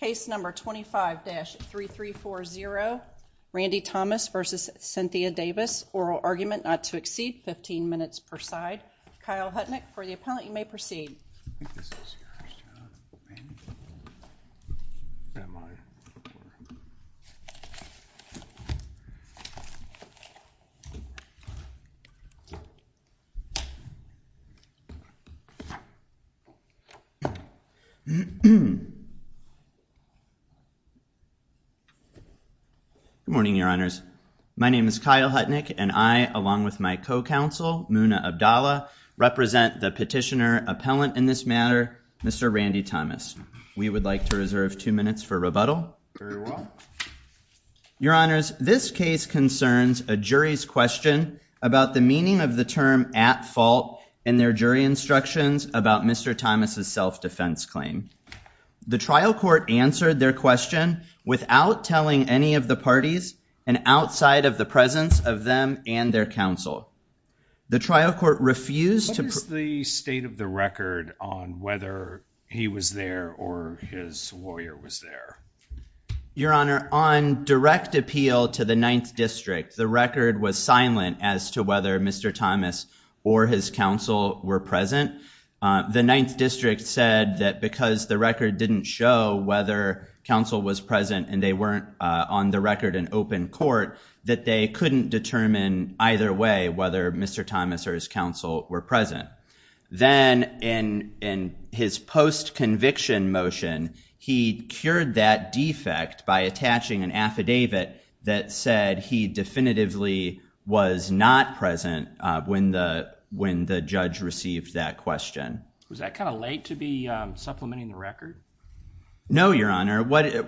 case number 25-3340 Randy Thomas versus Cynthia Davis oral argument not to exceed 15 minutes per side Kyle Hutnick for the appellant you may proceed Good morning your honors my name is Kyle Hutnick and I along with my co-counsel Muna Abdalla represent the petitioner appellant in this matter Mr. Randy Thomas we would like to reserve two minutes for rebuttal your honors this case concerns a jury's question about the meaning of the term at fault and their jury instructions about mr. Thomas's self-defense claim the trial court answered their question without telling any of the parties and outside of the presence of them and their counsel the trial court refused to the state of the record on whether he was there or his lawyer was there your honor on direct appeal to the 9th district the record was silent as to whether mr. Thomas or his counsel were present the 9th district said that because the record didn't show whether counsel was present and they weren't on the record in open court that they couldn't determine either way whether mr. Thomas or his counsel were present then in in his post conviction motion he cured that defect by attaching an affidavit that said he definitively was not present when the when the judge received that question was that kind of late to be supplementing the record no your honor what it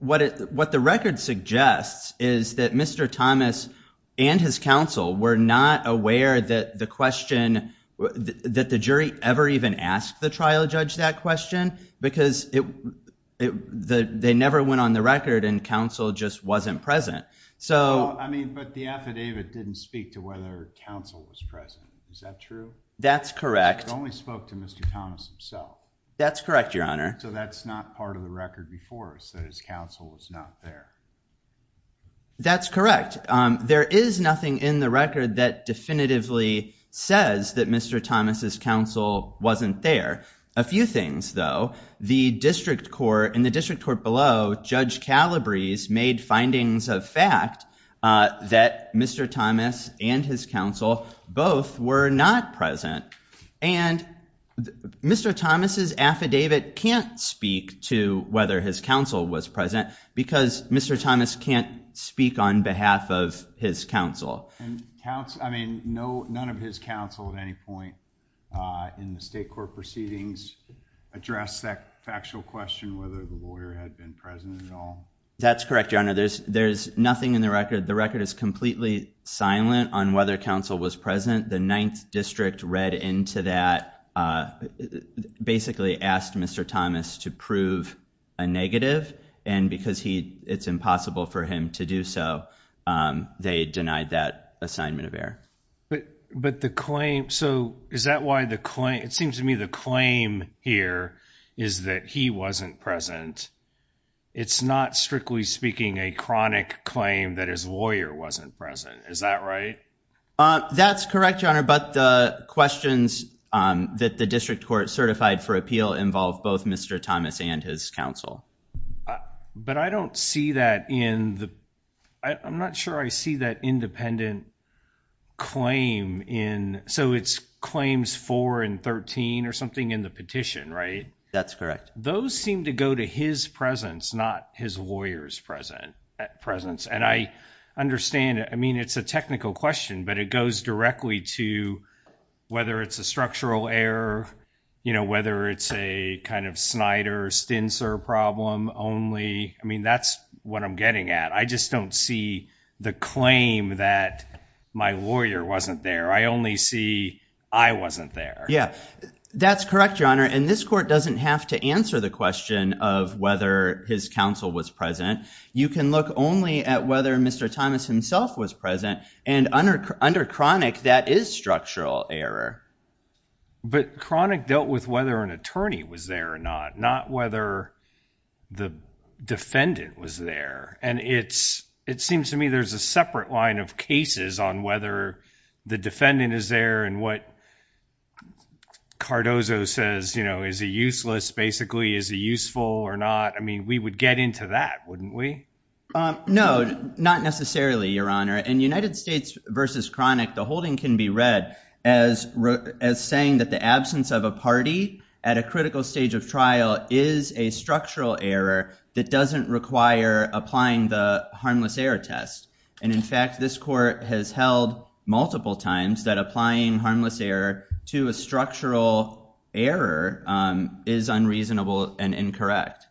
what it what the record suggests is that mr. Thomas and his counsel were not aware that the question that the jury ever even asked the trial judge that question because it the they never went on the record and counsel just wasn't present so I mean but the affidavit didn't speak to whether counsel was present is that true that's correct only spoke to mr. Thomas himself that's correct your honor so that's not part of the record before us that his counsel was not there that's correct there is nothing in the record that definitively says that mr. Thomas's counsel wasn't there a few things though the district court in the district court below judge Calabrese made findings of fact that mr. Thomas and his counsel both were not present and mr. Thomas's affidavit can't speak to whether his counsel was present because mr. Thomas can't speak on behalf of his counsel I mean no none of his counsel at any point in the state court proceedings address that factual question whether the lawyer had been present at all that's correct your honor there's there's nothing in the record the record is completely silent on whether counsel was present the ninth district read into that basically asked mr. Thomas to prove a negative and because he it's impossible for him to do so they denied that assignment of air but but the claim so is that why the claim it seems to me the claim here is that he wasn't present it's not strictly speaking a chronic claim that his lawyer wasn't present is that right that's correct your honor but the questions that the district court certified for appeal involve both mr. Thomas and his counsel but I don't see that in the I'm not sure I see that independent claim in so it's claims 4 and 13 or something in the petition right that's correct those seem to go to his presence not his lawyers present presence and I understand I mean it's a technical question but it goes directly to whether it's a structural error you know whether it's a kind of Snyder stint sir problem only I mean that's what I'm getting at I just don't see the claim that my lawyer wasn't there I only see I wasn't there yeah that's correct your honor and this court doesn't have to answer the question of whether his counsel was present you can look only at whether mr. Thomas himself was present and under under chronic that is structural error but chronic dealt with whether an attorney was there or not not whether the defendant was there and it's it seems to me there's a separate line of cases on whether the defendant is there and what Cardozo says you know is a useless basically is a useful or not I mean we would get into that wouldn't we no not necessarily your honor and United States versus chronic the holding can be read as as saying that the absence of a party at a critical stage of trial is a structural error that doesn't require applying the harmless error test and in fact this court has held multiple times that applying harmless error to a structural error is unreasonable and incorrect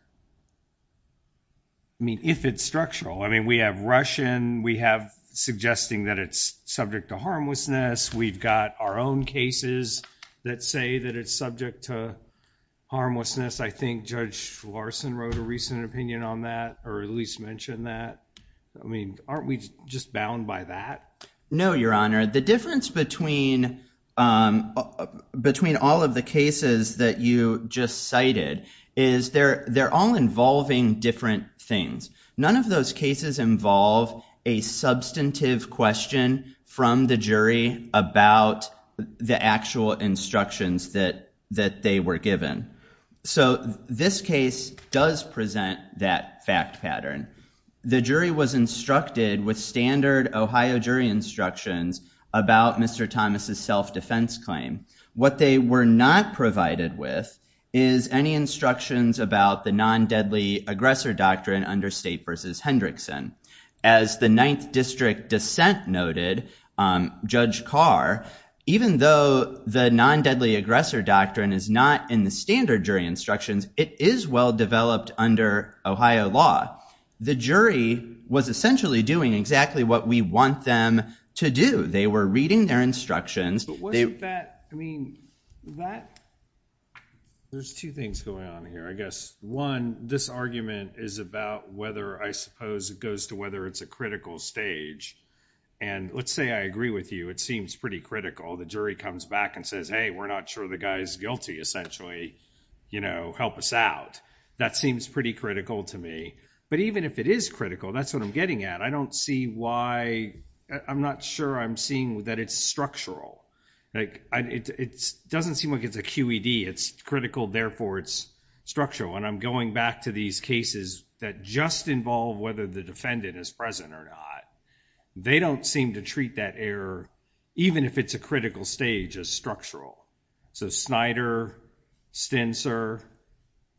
I mean if it's structural I mean we have Russian we have suggesting that it's subject to harmlessness we've got our own cases that say that it's subject to harmlessness I think judge Larson wrote a recent opinion on that or at least mentioned that I mean aren't we just bound by that no your honor the difference between between all of the cases that you just cited is they're they're all involving different things none of those cases involve a substantive question from the jury about the actual instructions that that they were given so this case does present that fact pattern the jury was instructed with standard Ohio jury instructions about mr. Thomas's self defense claim what they were not provided with is any instructions about the non deadly aggressor doctrine under state versus Hendrickson as the ninth district dissent noted judge Carr even though the non deadly aggressor doctrine is not in the standard jury instructions it is well developed under Ohio law the jury was essentially doing exactly what we want them to do they were reading their instructions there's two things going on here I guess one this argument is about whether I suppose it goes to whether it's a critical stage and let's say I agree with you it seems pretty critical the jury comes back and says hey we're not sure the guy's guilty essentially you know help us out that seems pretty critical to me but even if it is critical that's what I'm getting at I don't see why I'm not sure I'm seeing that it's structural like it doesn't seem like it's a QED it's critical therefore it's structural and I'm going back to these cases that just involve whether the defendant is present or not they don't seem to treat that error even if it's a critical stage as structural so Snyder, Stencer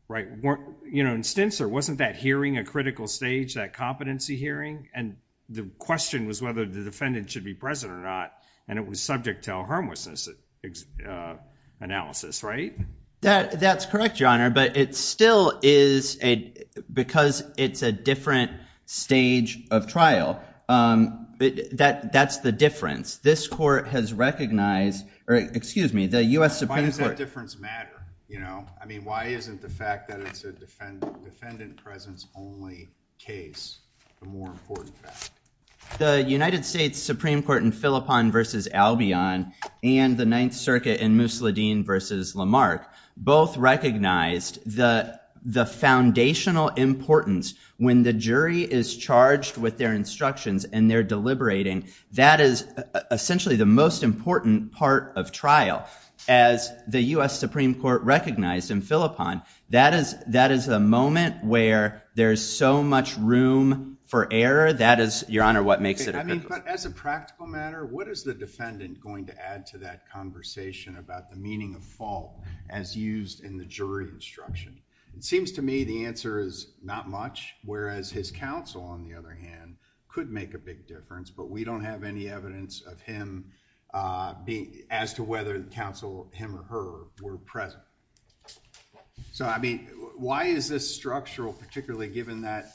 right weren't you know in Stencer wasn't that hearing a critical stage that competency hearing and the question was whether the defendant should be present or not and it was subject to a harmlessness analysis right that that's correct your honor but it still is a because it's a different stage of trial that that's the difference this court has recognized or excuse me the u.s. why does that difference matter you know I mean why isn't the fact that it's a defendant defendant presence only case the more important fact the United States Supreme Court in Philippon versus Albion and the Ninth Circuit in Musladeen versus Lamarck both recognized the the foundational importance when the jury is charged with their instructions and they're deliberating that is essentially the most important part of trial as the US Supreme Court recognized in Philippon that is that is a moment where there's so much room for error that is your honor what makes it I mean but as a practical matter what is the defendant going to add to that conversation about the meaning of fault as used in the jury instruction it seems to me the answer is not much whereas his counsel on the other hand could make a big difference but we don't have any evidence of him being as to whether the counsel him or her were present so I mean why is this structural particularly given that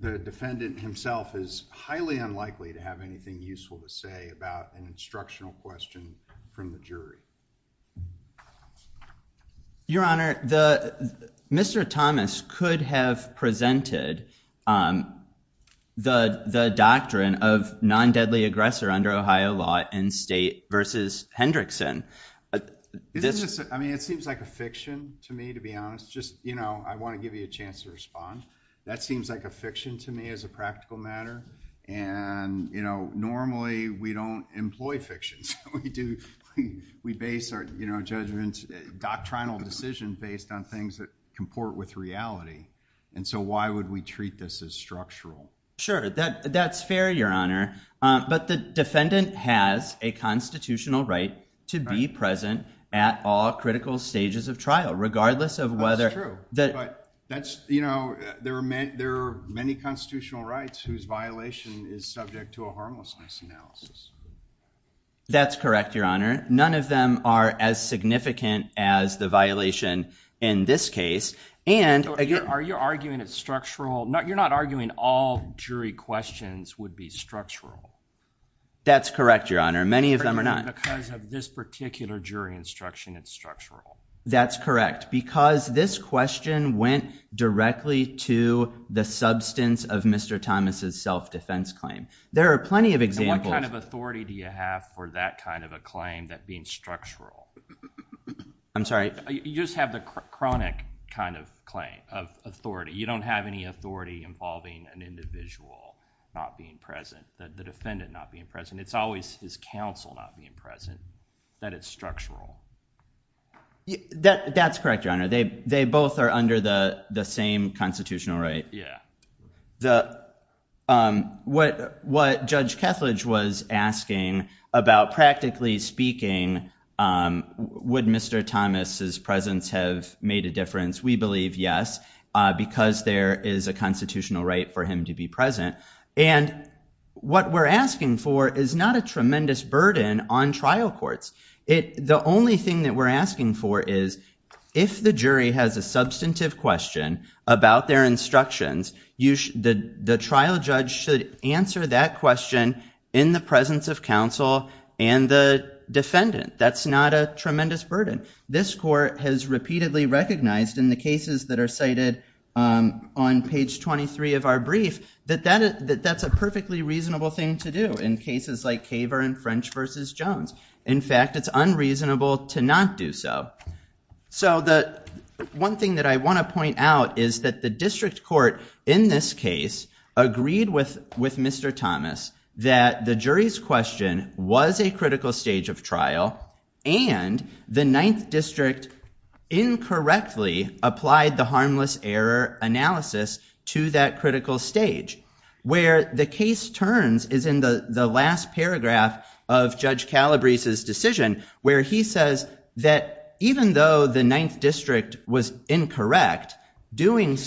the defendant himself is highly unlikely to have anything useful to say about an instructional question from the jury your honor the mr. Thomas could have presented the the doctrine of non-deadly aggressor under Ohio law and state versus Hendrickson I mean it seems like a fiction to me to be honest just you know I want to give you a chance to respond that seems like a fiction to me as a practical matter and you know normally we don't employ fictions we do we base our you know judgments doctrinal decision based on things that comport with reality and so why would we treat this as structural sure that that's fair your honor but the defendant has a constitutional right to be present at all critical stages of trial regardless of whether true that that's you know there are meant there are many constitutional rights whose violation is subject to a harmlessness analysis that's correct your honor none of them are as significant as the violation in this case and again are you arguing it's structural no you're not arguing all jury questions would be structural that's correct your honor many of them are not because of this particular jury instruction it's structural that's correct because this question went directly to the substance of mr. Thomas's self-defense claim there are plenty of examples kind of authority do you have for that kind of a claim that being structural I'm sorry you just have the chronic kind of claim of authority you don't have any authority involving an individual not being present that the defendant not being present it's always his counsel not being present that it's structural that that's correct your honor they they both are under the the same constitutional right yeah the what what judge Kethledge was asking about practically speaking would mr. Thomas's presence have made a difference we believe yes because there is a constitutional right for him to be present and what we're asking for is not a tremendous burden on trial courts it the only thing that we're asking for is if the jury has a substantive question about their instructions you should the the trial judge should answer that question in the presence of counsel and the defendant that's not a tremendous burden this court has repeatedly recognized in the cases that are cited on page 23 of our brief that that is that that's a perfectly reasonable thing to do in cases like Kaver and French vs. Jones in fact it's unreasonable to not do so so that one thing that I want to point out is that the district court in this case agreed with with mr. Thomas that the jury's question was a critical stage of trial and the Ninth District incorrectly applied the harmless error analysis to that critical stage where the case turns is in the the last paragraph of Judge Calabrese's decision where he says that even though the Ninth District's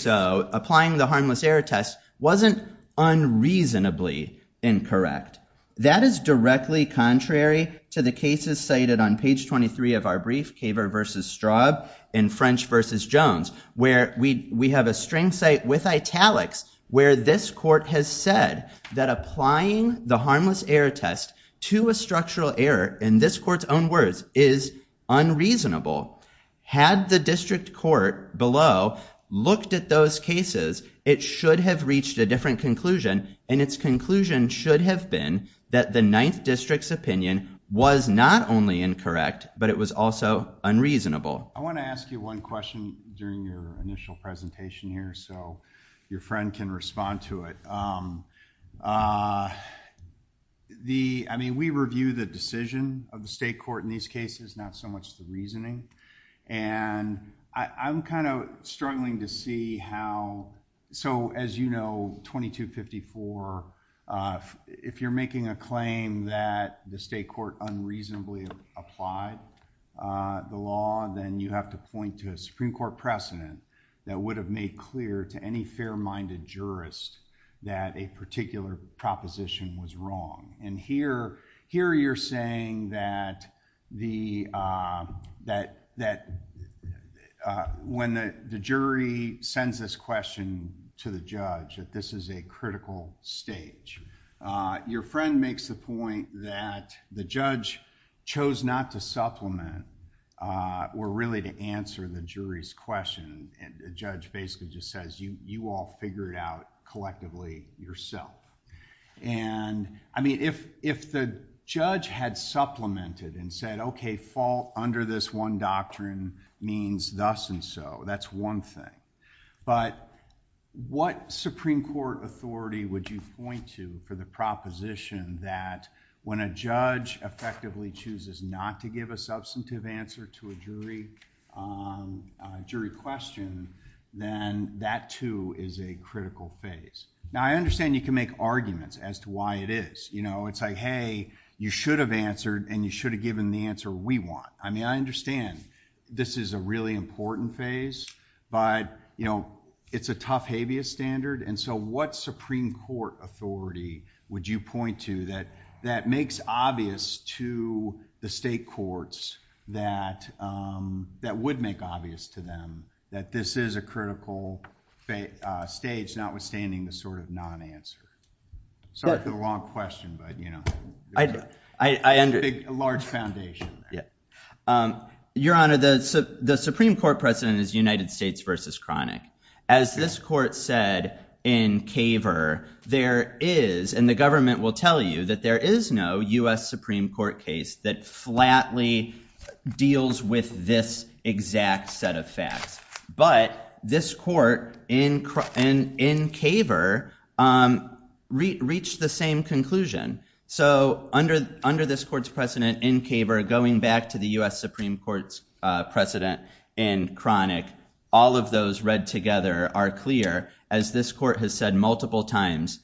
harmless error test wasn't unreasonably incorrect that is directly contrary to the cases cited on page 23 of our brief Kaver vs. Straub in French vs. Jones where we we have a string site with italics where this court has said that applying the harmless error test to a structural error in this court's own words is unreasonable had the district court below looked at those cases it should have reached a different conclusion and its conclusion should have been that the Ninth District's opinion was not only incorrect but it was also unreasonable I want to ask you one question during your initial presentation here so your friend can respond to it the I mean we review the decision of the state court in these cases not so much the reasoning and I'm kind of struggling to see how so as you know 2254 if you're making a claim that the state court unreasonably applied the law then you have to point to a Supreme Court precedent that would have made clear to any fair-minded jurist that a particular proposition was wrong and here here you're saying that the that that when the jury sends this question to the judge that this is a critical stage your friend makes the point that the judge chose not to supplement or really to answer the jury's question and the judge basically just says you all figure it out collectively yourself and I mean if if the judge had supplemented and said okay fall under this one doctrine means thus and so that's one thing but what Supreme Court authority would you point to for the proposition that when a judge effectively chooses not to give a substantive answer to a jury question then that too is a critical phase now I understand you can make arguments as to why it is you know it's like hey you should have answered and you should have given the answer we want I mean I understand this is a really important phase but you know it's a tough habeas standard and so what Supreme Court authority would you point to that that makes obvious to the state courts that that would make obvious to them that this is a critical stage not withstanding the sort of non-answer so it's a long question but you know I I under a large foundation yeah your honor the the Supreme Court president is United States versus chronic as this court said in caver there is and the will tell you that there is no US Supreme Court case that flatly deals with this exact set of facts but this court in and in caver reach the same conclusion so under under this courts precedent in caver going back to the US Supreme Court's precedent and chronic all of those read together are clear as this court has said multiple times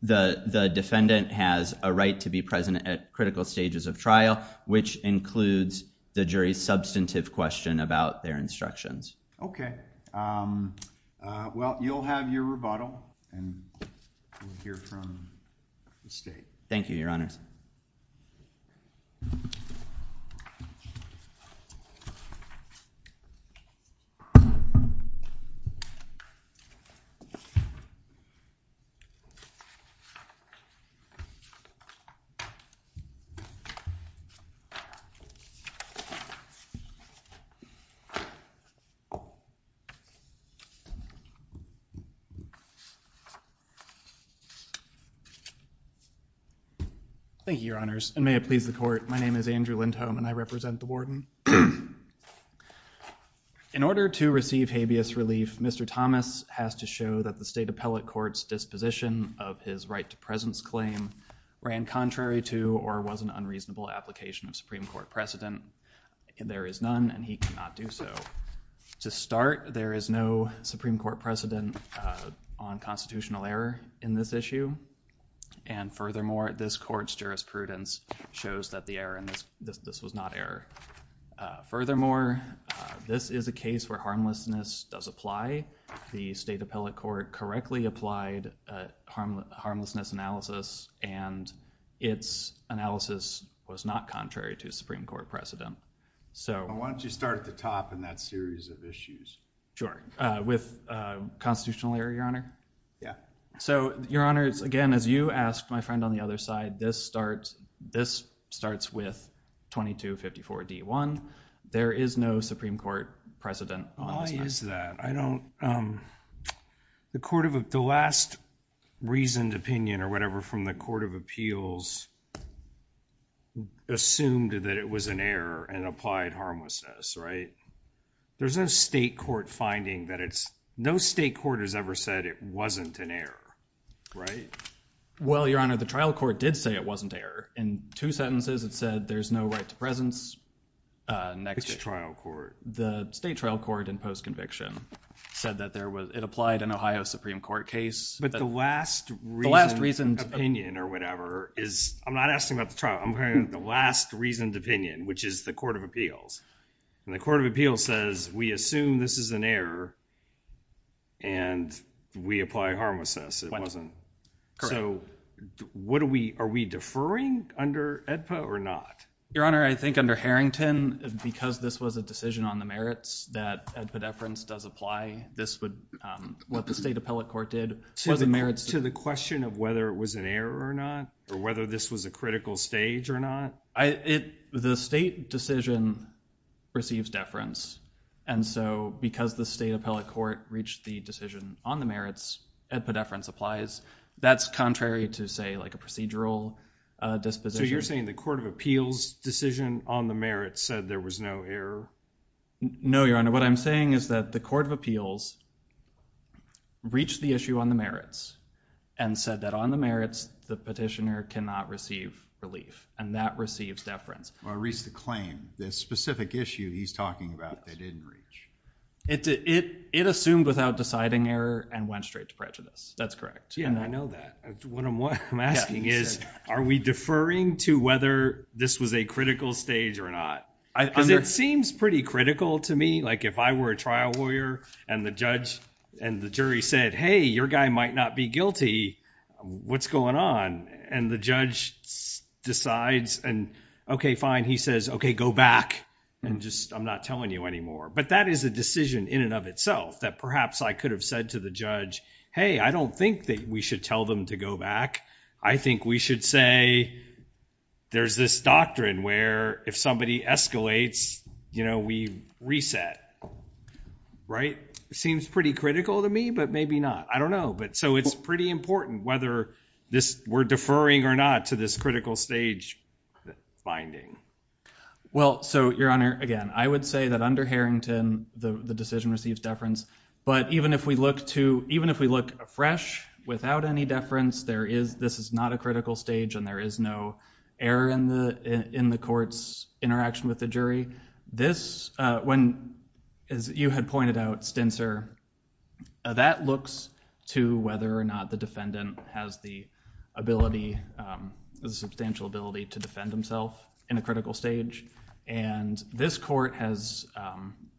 the defendant has a right to be present at critical stages of trial which includes the jury's substantive question about their instructions okay well you'll have your rebuttal and hear from the state thank you your honors and may it please the court my name is Andrew Lindholm and I represent the warden in order to receive habeas relief mr. Thomas has to show that the state appellate courts disposition of his right to presence claim ran contrary to or was an unreasonable application of Supreme Court precedent and there is none and he cannot do so to start there is no Supreme Court precedent on constitutional error in this issue and furthermore this courts jurisprudence shows that the error in this this was not error furthermore this is a case where harmlessness does apply the state appellate court correctly applied harmlessness analysis and its analysis was not contrary to Supreme Court precedent so why don't you start at the top in that series of issues sure with constitutional error your honor yeah so your honors again as you asked my friend on the other side this starts this starts with 2254 d1 there is no Supreme Court precedent is that I don't the court of the last reasoned opinion or whatever from the Court of Appeals assumed that it was an error and applied harmlessness right there's no state court finding that it's no state court has ever said it wasn't an error right well your honor the trial court did say it wasn't error in two sentences it said there's no right to presence next trial court the state trial court in post conviction said that there was it applied an Ohio Supreme Court case but the last last reason opinion or whatever is I'm not asking about the trial I'm hearing the last reasoned opinion which is the Court of Appeals and the Court of Appeals says we assume this is an error and we apply harmlessness it wasn't so what do we are we deferring under EDPA or not your honor I think under Harrington because this was a decision on the merits that a deference does apply this would what the state appellate court did to the merits to the question of whether it was an error or not or whether this was a critical stage or not I it the state decision receives deference and so because the state appellate court reached the decision on the merits at the deference applies that's contrary to say like a procedural disposition you're saying the Court of Appeals decision on the merits said there was no error no your honor what I'm saying is that the Court of Appeals reached the issue on the merits and said that on the merits the petitioner cannot receive relief and that receives deference I reached the claim this specific issue he's talking about they didn't reach it did it it assumed without deciding error and went straight to prejudice that's correct yeah I know that what I'm asking is are we deferring to whether this was a critical stage or not it seems pretty critical to me like if I were a trial lawyer and the judge and the jury said hey your guy might not be guilty what's on and the judge decides and okay fine he says okay go back and just I'm not telling you anymore but that is a decision in and of itself that perhaps I could have said to the judge hey I don't think that we should tell them to go back I think we should say there's this doctrine where if somebody escalates you know we reset right it seems pretty critical to me but maybe not I don't know but so it's pretty important whether this we're deferring or not to this critical stage finding well so your honor again I would say that under Harrington the the decision receives deference but even if we look to even if we look fresh without any deference there is this is not a critical stage and there is no error in the in the courts interaction with the jury this when as you had pointed out stints er that looks to whether or not the defendant has the ability the substantial ability to defend himself in a critical stage and this court has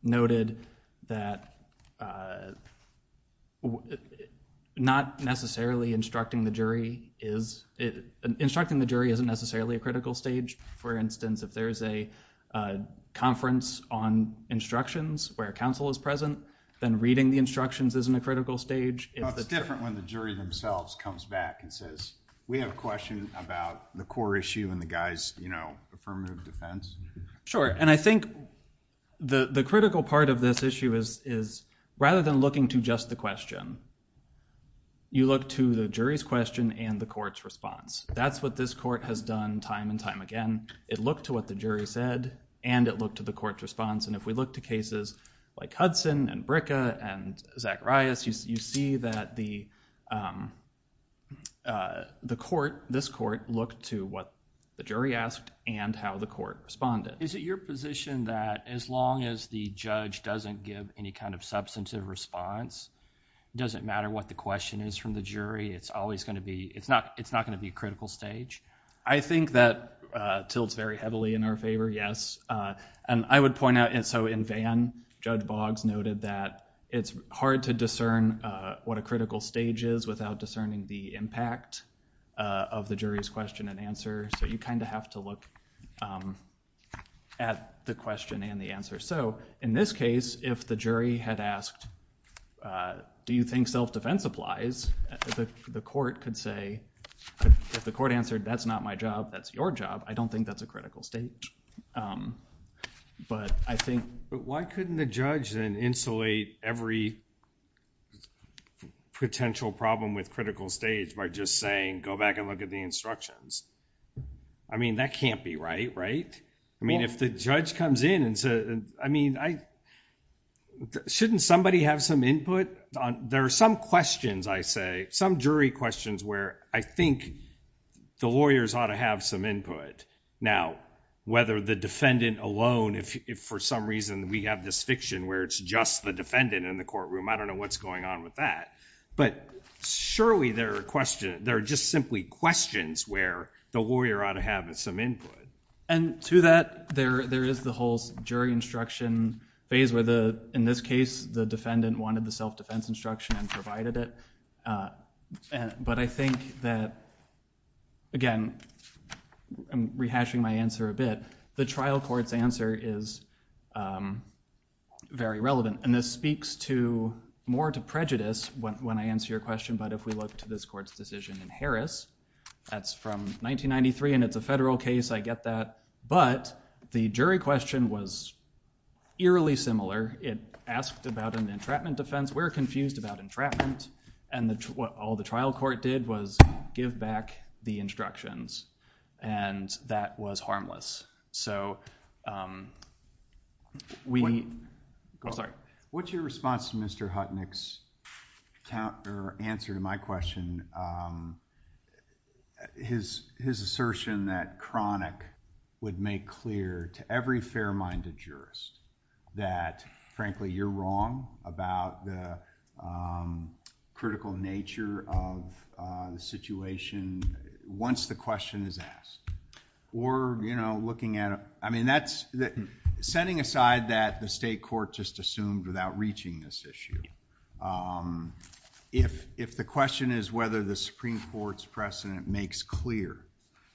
noted that not necessarily instructing the jury is instructing the jury isn't necessarily a critical stage for instance if there is a conference on instructions where counsel is present then reading the instructions isn't a critical stage it's different when the jury themselves comes back and says we have a question about the core issue and the guys you know affirmative defense sure and I think the the critical part of this issue is is rather than looking to just the question you look to the jury's question and the court's response that's what this court has done time and again it looked to what the jury said and it looked to the court's response and if we look to cases like Hudson and Bricka and Zacharias you see that the court this court looked to what the jury asked and how the court responded is it your position that as long as the judge doesn't give any kind of substantive response doesn't matter what the question is from the jury it's always going to be it's not it's not going to be a critical stage I think that tilts very heavily in our favor yes and I would point out and so in Van Judge Boggs noted that it's hard to discern what a critical stage is without discerning the impact of the jury's question and answer so you kind of have to look at the question and the answer so in this case if the jury had asked do you think self-defense applies the court could say if the court answered that's not my job that's your job I don't think that's a critical stage but I think but why couldn't the judge and insulate every potential problem with critical stage by just saying go back and look at the instructions I mean that can't be right right I mean if the judge comes in and said I mean I shouldn't somebody have some input on there are some questions I say some jury questions where I think the lawyers ought to have some input now whether the defendant alone if for some reason we have this fiction where it's just the defendant in the courtroom I don't know what's going on with that but surely there are questions there are just simply questions where the lawyer ought to have some input and to that there there is the whole jury instruction phase where the in this case the defendant wanted the self-defense instruction and provided it but I think that again rehashing my answer a bit the trial court's answer is very relevant and this speaks to more to prejudice when I answer your question but if we look to this court's decision in Harris that's from 1993 and it's a federal case I get that but the jury question was eerily similar it asked about an entrapment defense we're confused about entrapment and that's what all the trial court did was give back the instructions and that was harmless so we I'm sorry what's your response to Mr. Hutnick's counter answer to my question his his assertion that chronic would make clear to every fair-minded jurist that frankly you're wrong about the critical nature of the situation once the question is asked or you know looking at I mean that's that setting aside that the state court just assumed without reaching this issue if if the question is whether the Supreme Court's precedent makes clear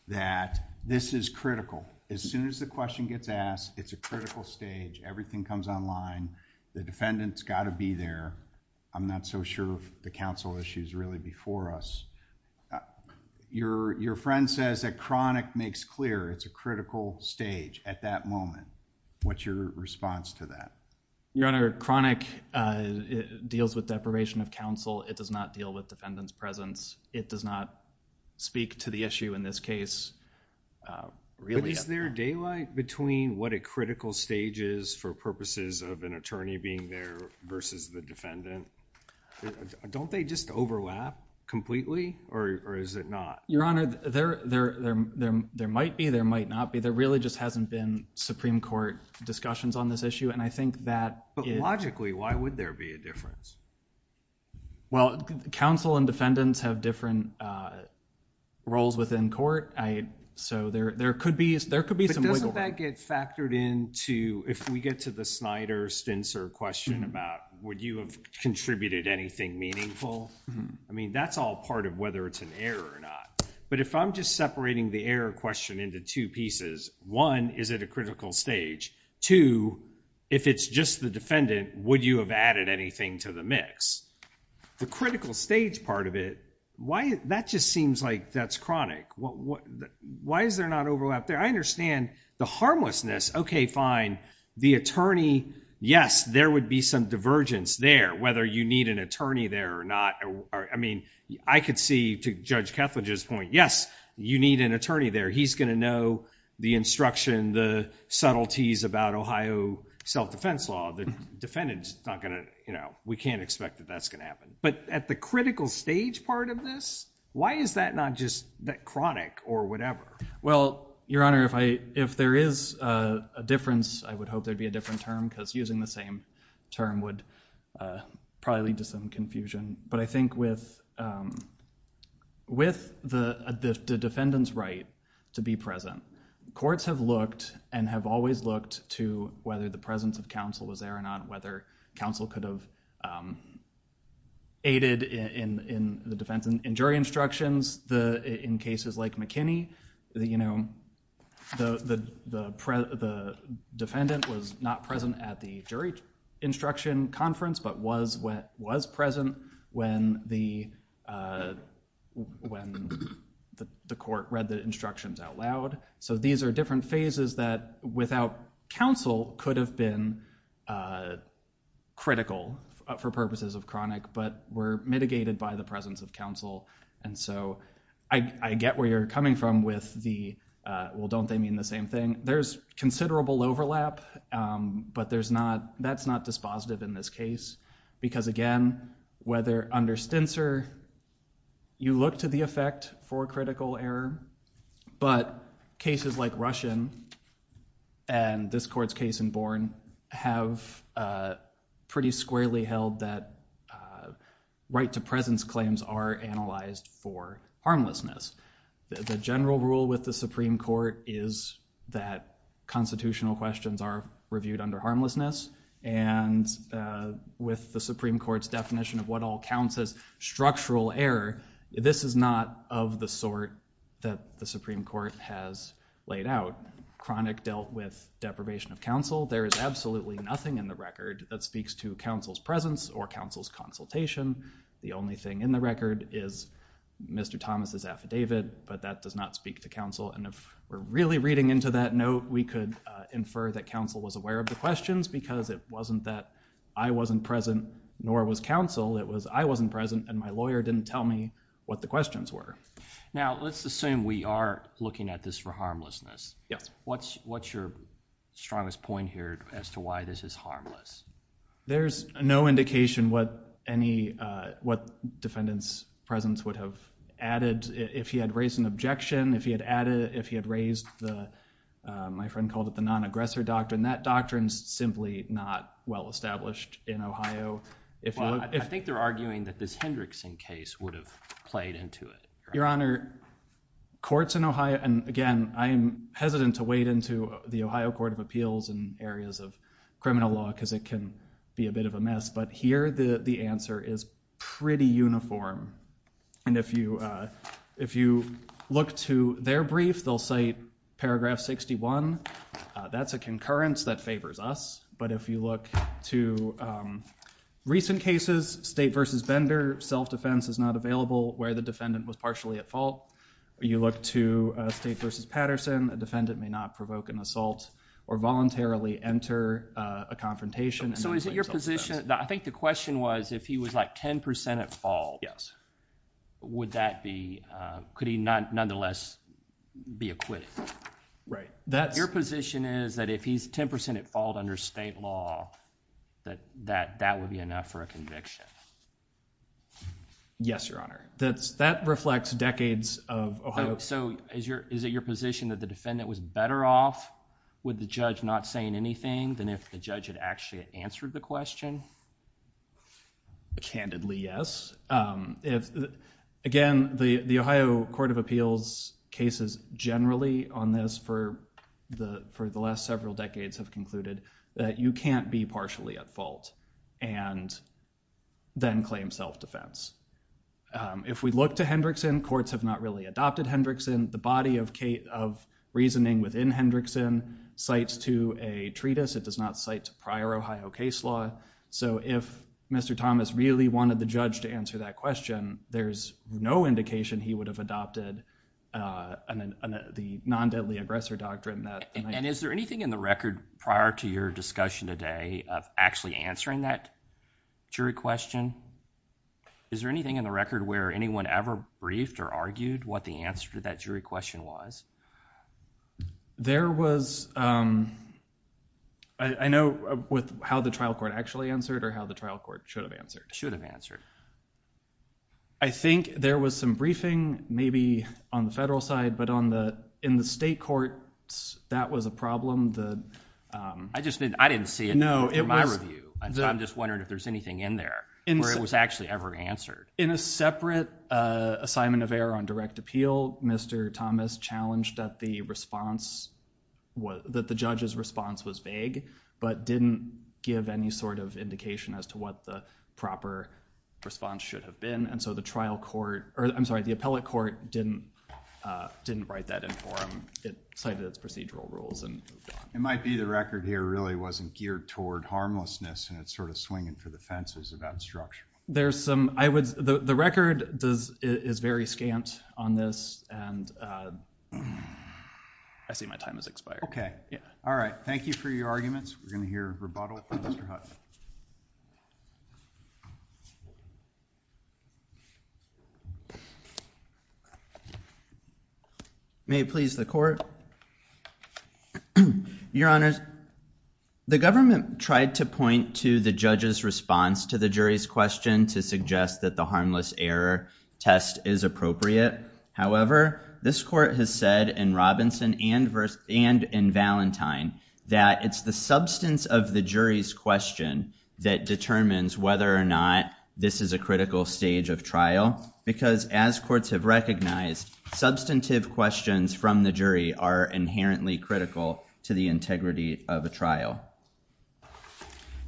that this is critical as soon as the question gets asked it's a critical stage everything comes online the defendants got to be there I'm not so sure the counsel issues really before us your your friend says that chronic makes clear it's a critical stage at that moment what's your response to that your honor chronic deals with probation of counsel it does not deal with defendants presence it does not speak to the issue in this case really is there daylight between what a critical stage is for purposes of an attorney being there versus the defendant don't they just overlap completely or is it not your honor there there there there might be there might not be there really just hasn't been Supreme Court discussions on this issue and I think that but logically why would there be a difference well counsel and defendants have different roles within court I so there there could be there could be some way that gets factored in to if we get to the Snyder stints or question about would you have contributed anything meaningful I mean that's all part of whether it's an error or not but if I'm just separating the air question into two pieces one is it a critical stage to if it's just the defendant would you have added anything to the mix the critical stage part of it why that just seems like that's chronic what why is there not overlap there I understand the harmlessness okay fine the attorney yes there would be some divergence there whether you need an attorney there or not or I mean I could see to judge Ketledge's point yes you need an attorney there he's gonna know the instruction the subtleties about Ohio self-defense law the defendants not gonna you know we can't expect that that's gonna happen but at the critical stage part of this why is that not just that chronic or whatever well your honor if I if there is a difference I would hope there'd be a different term because using the same term would probably lead to some confusion but I think with with the defendants right to be present courts have looked and have always looked to whether the presence of counsel was there or not whether counsel could have aided in in the defense and jury instructions the in cases like McKinney that you know the the the defendant was not present at the jury instruction conference but was what was present when the when the court read the instructions out loud so these are different phases that without counsel could have been critical for purposes of chronic but were mitigated by the presence of counsel and so I get where you're coming from with the well don't they mean the same thing there's considerable overlap but there's not that's not dispositive in this case because again whether under stints or you look to the effect for critical error but cases like Russian and this court's case in Bourne have pretty squarely held that right to presence claims are analyzed for harmlessness the general rule with the Supreme Court is that constitutional questions are reviewed under harmlessness and with the Supreme Court's definition of what all counts as structural error this is not of the sort that the Supreme Court has laid out chronic dealt with deprivation of counsel there is absolutely nothing in the record that speaks to counsel's presence or counsel's consultation the only thing in the record is mr. Thomas's affidavit but that does not speak to counsel and if we're really reading into that note we could infer that counsel was aware of the questions because it wasn't that I wasn't present nor was counsel it was I wasn't present and my lawyer didn't tell me what the questions were now let's assume we are looking at this for harmlessness yes what's what's your strongest point here as to why this is harmless there's no indication what any what defendants presence would have added if he had raised an objection if he had added if he had raised the my friend called it the non-aggressor doctrine that doctrines simply not well established in Ohio if I think they're arguing that this Hendrickson case would have played into it your honor courts in Ohio and again I am hesitant to wade into the Ohio Court of Appeals and areas of criminal law because it can be a bit of a mess but here the the answer is pretty uniform and if you if you look to their brief they'll say paragraph 61 that's a concurrence that favors us but if you look to recent cases state versus Bender self-defense is not available where the defendant was partially at fault you look to state versus Patterson a defendant may not provoke an assault or voluntarily enter a confrontation so is it your position I think the question was if he was like 10% at all yes would that be could he not nonetheless be acquitted right that's your position is that if he's 10% at fault under state law that that that would be enough for a conviction yes your honor that's that reflects decades of so is your is it your position that the defendant was better off with the judge not saying anything than if the judge had actually answered the question candidly yes if again the the Ohio Court of Appeals cases generally on this for the for the last several decades have concluded that you can't be partially at fault and then claim self-defense if we look to Hendrickson courts have not really adopted Hendrickson the body of Kate of reasoning within Hendrickson cites to a treatise it does not cite prior Ohio case law so if mr. Thomas really wanted the judge to answer that question there's no indication he would have adopted and then the non deadly aggressor doctrine that and is there anything in the record prior to your discussion today of actually answering that jury question is there anything in the record where anyone ever briefed or argued what the answer to that jury question was there was I know with how the trial court actually answered or how the trial court should have answered I think there was some briefing maybe on the federal side but on the in the state court that was a problem that I just didn't I didn't see no it was I'm just wondering if there's anything in there and it was actually ever answered in a separate assignment of error on direct appeal mr. Thomas challenged that the response was that the judge's response was vague but didn't give any sort of indication as to what the proper response should have been and so the trial court or I'm sorry the appellate court didn't didn't write that in for him it cited its procedural rules and it might be the record here really wasn't geared toward harmlessness and it's sort of swinging for the fences about structure there's some I would the record does is very scant on this and I see my time has expired okay yeah all right thank you for your arguments we're gonna hear rebuttal may please the court your honors the government tried to point to the judge's response to the jury's question to suggest that the harmless error test is appropriate however this court has said in Robinson and verse and in Valentine that it's the substance of the jury's question that determines whether or not this is a critical stage of trial because as courts have recognized substantive questions from the jury are inherently critical to the integrity of a trial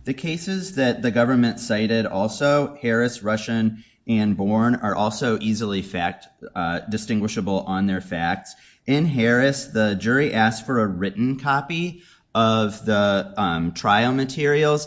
the cases that the government cited also Harris Russian and born are also easily fact distinguishable on their facts in Harris the jury asked for a written copy of the trial materials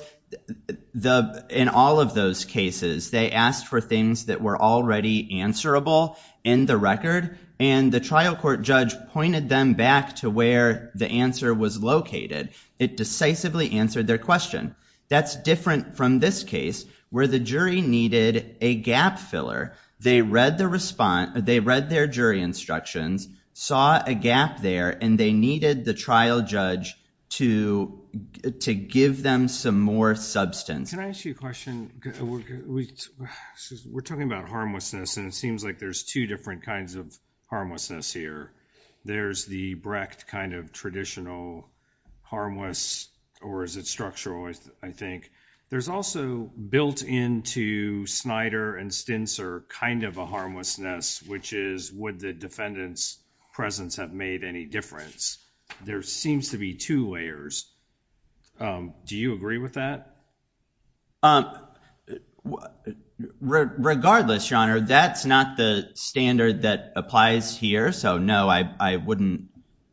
the in all of those cases they asked for things that were already answerable in the record and the trial court judge pointed them back to where the answer was located it decisively answered their question that's different from this case where the jury needed a gap filler they read the response they read their jury instructions saw a gap there and they needed the trial judge to to give them some more substance we're talking about harmlessness and it seems like there's two different kinds of harmlessness here there's the Brecht kind of traditional harmless or is it structural I think there's also built into Snyder and Stints are kind of a harmlessness which is would the defendants presence have made any difference there seems to be two layers do you agree with that um regardless your honor that's not the standard that applies here so no I wouldn't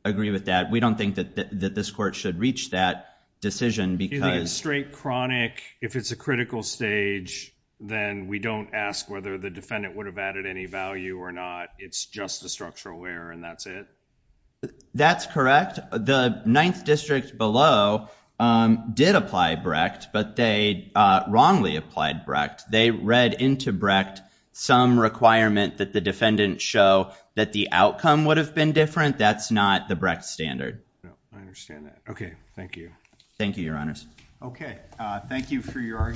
agree with that we don't think that this court should reach that decision because straight chronic if it's a critical stage then we don't ask whether the defendant would have added any value or not it's just a structural where and that's it that's correct the ninth district below did apply Brecht but they wrongly applied Brecht they read into Brecht some requirement that the defendant show that the outcome would have been different that's not the Brecht standard okay thank you thank you your honors okay thank you for your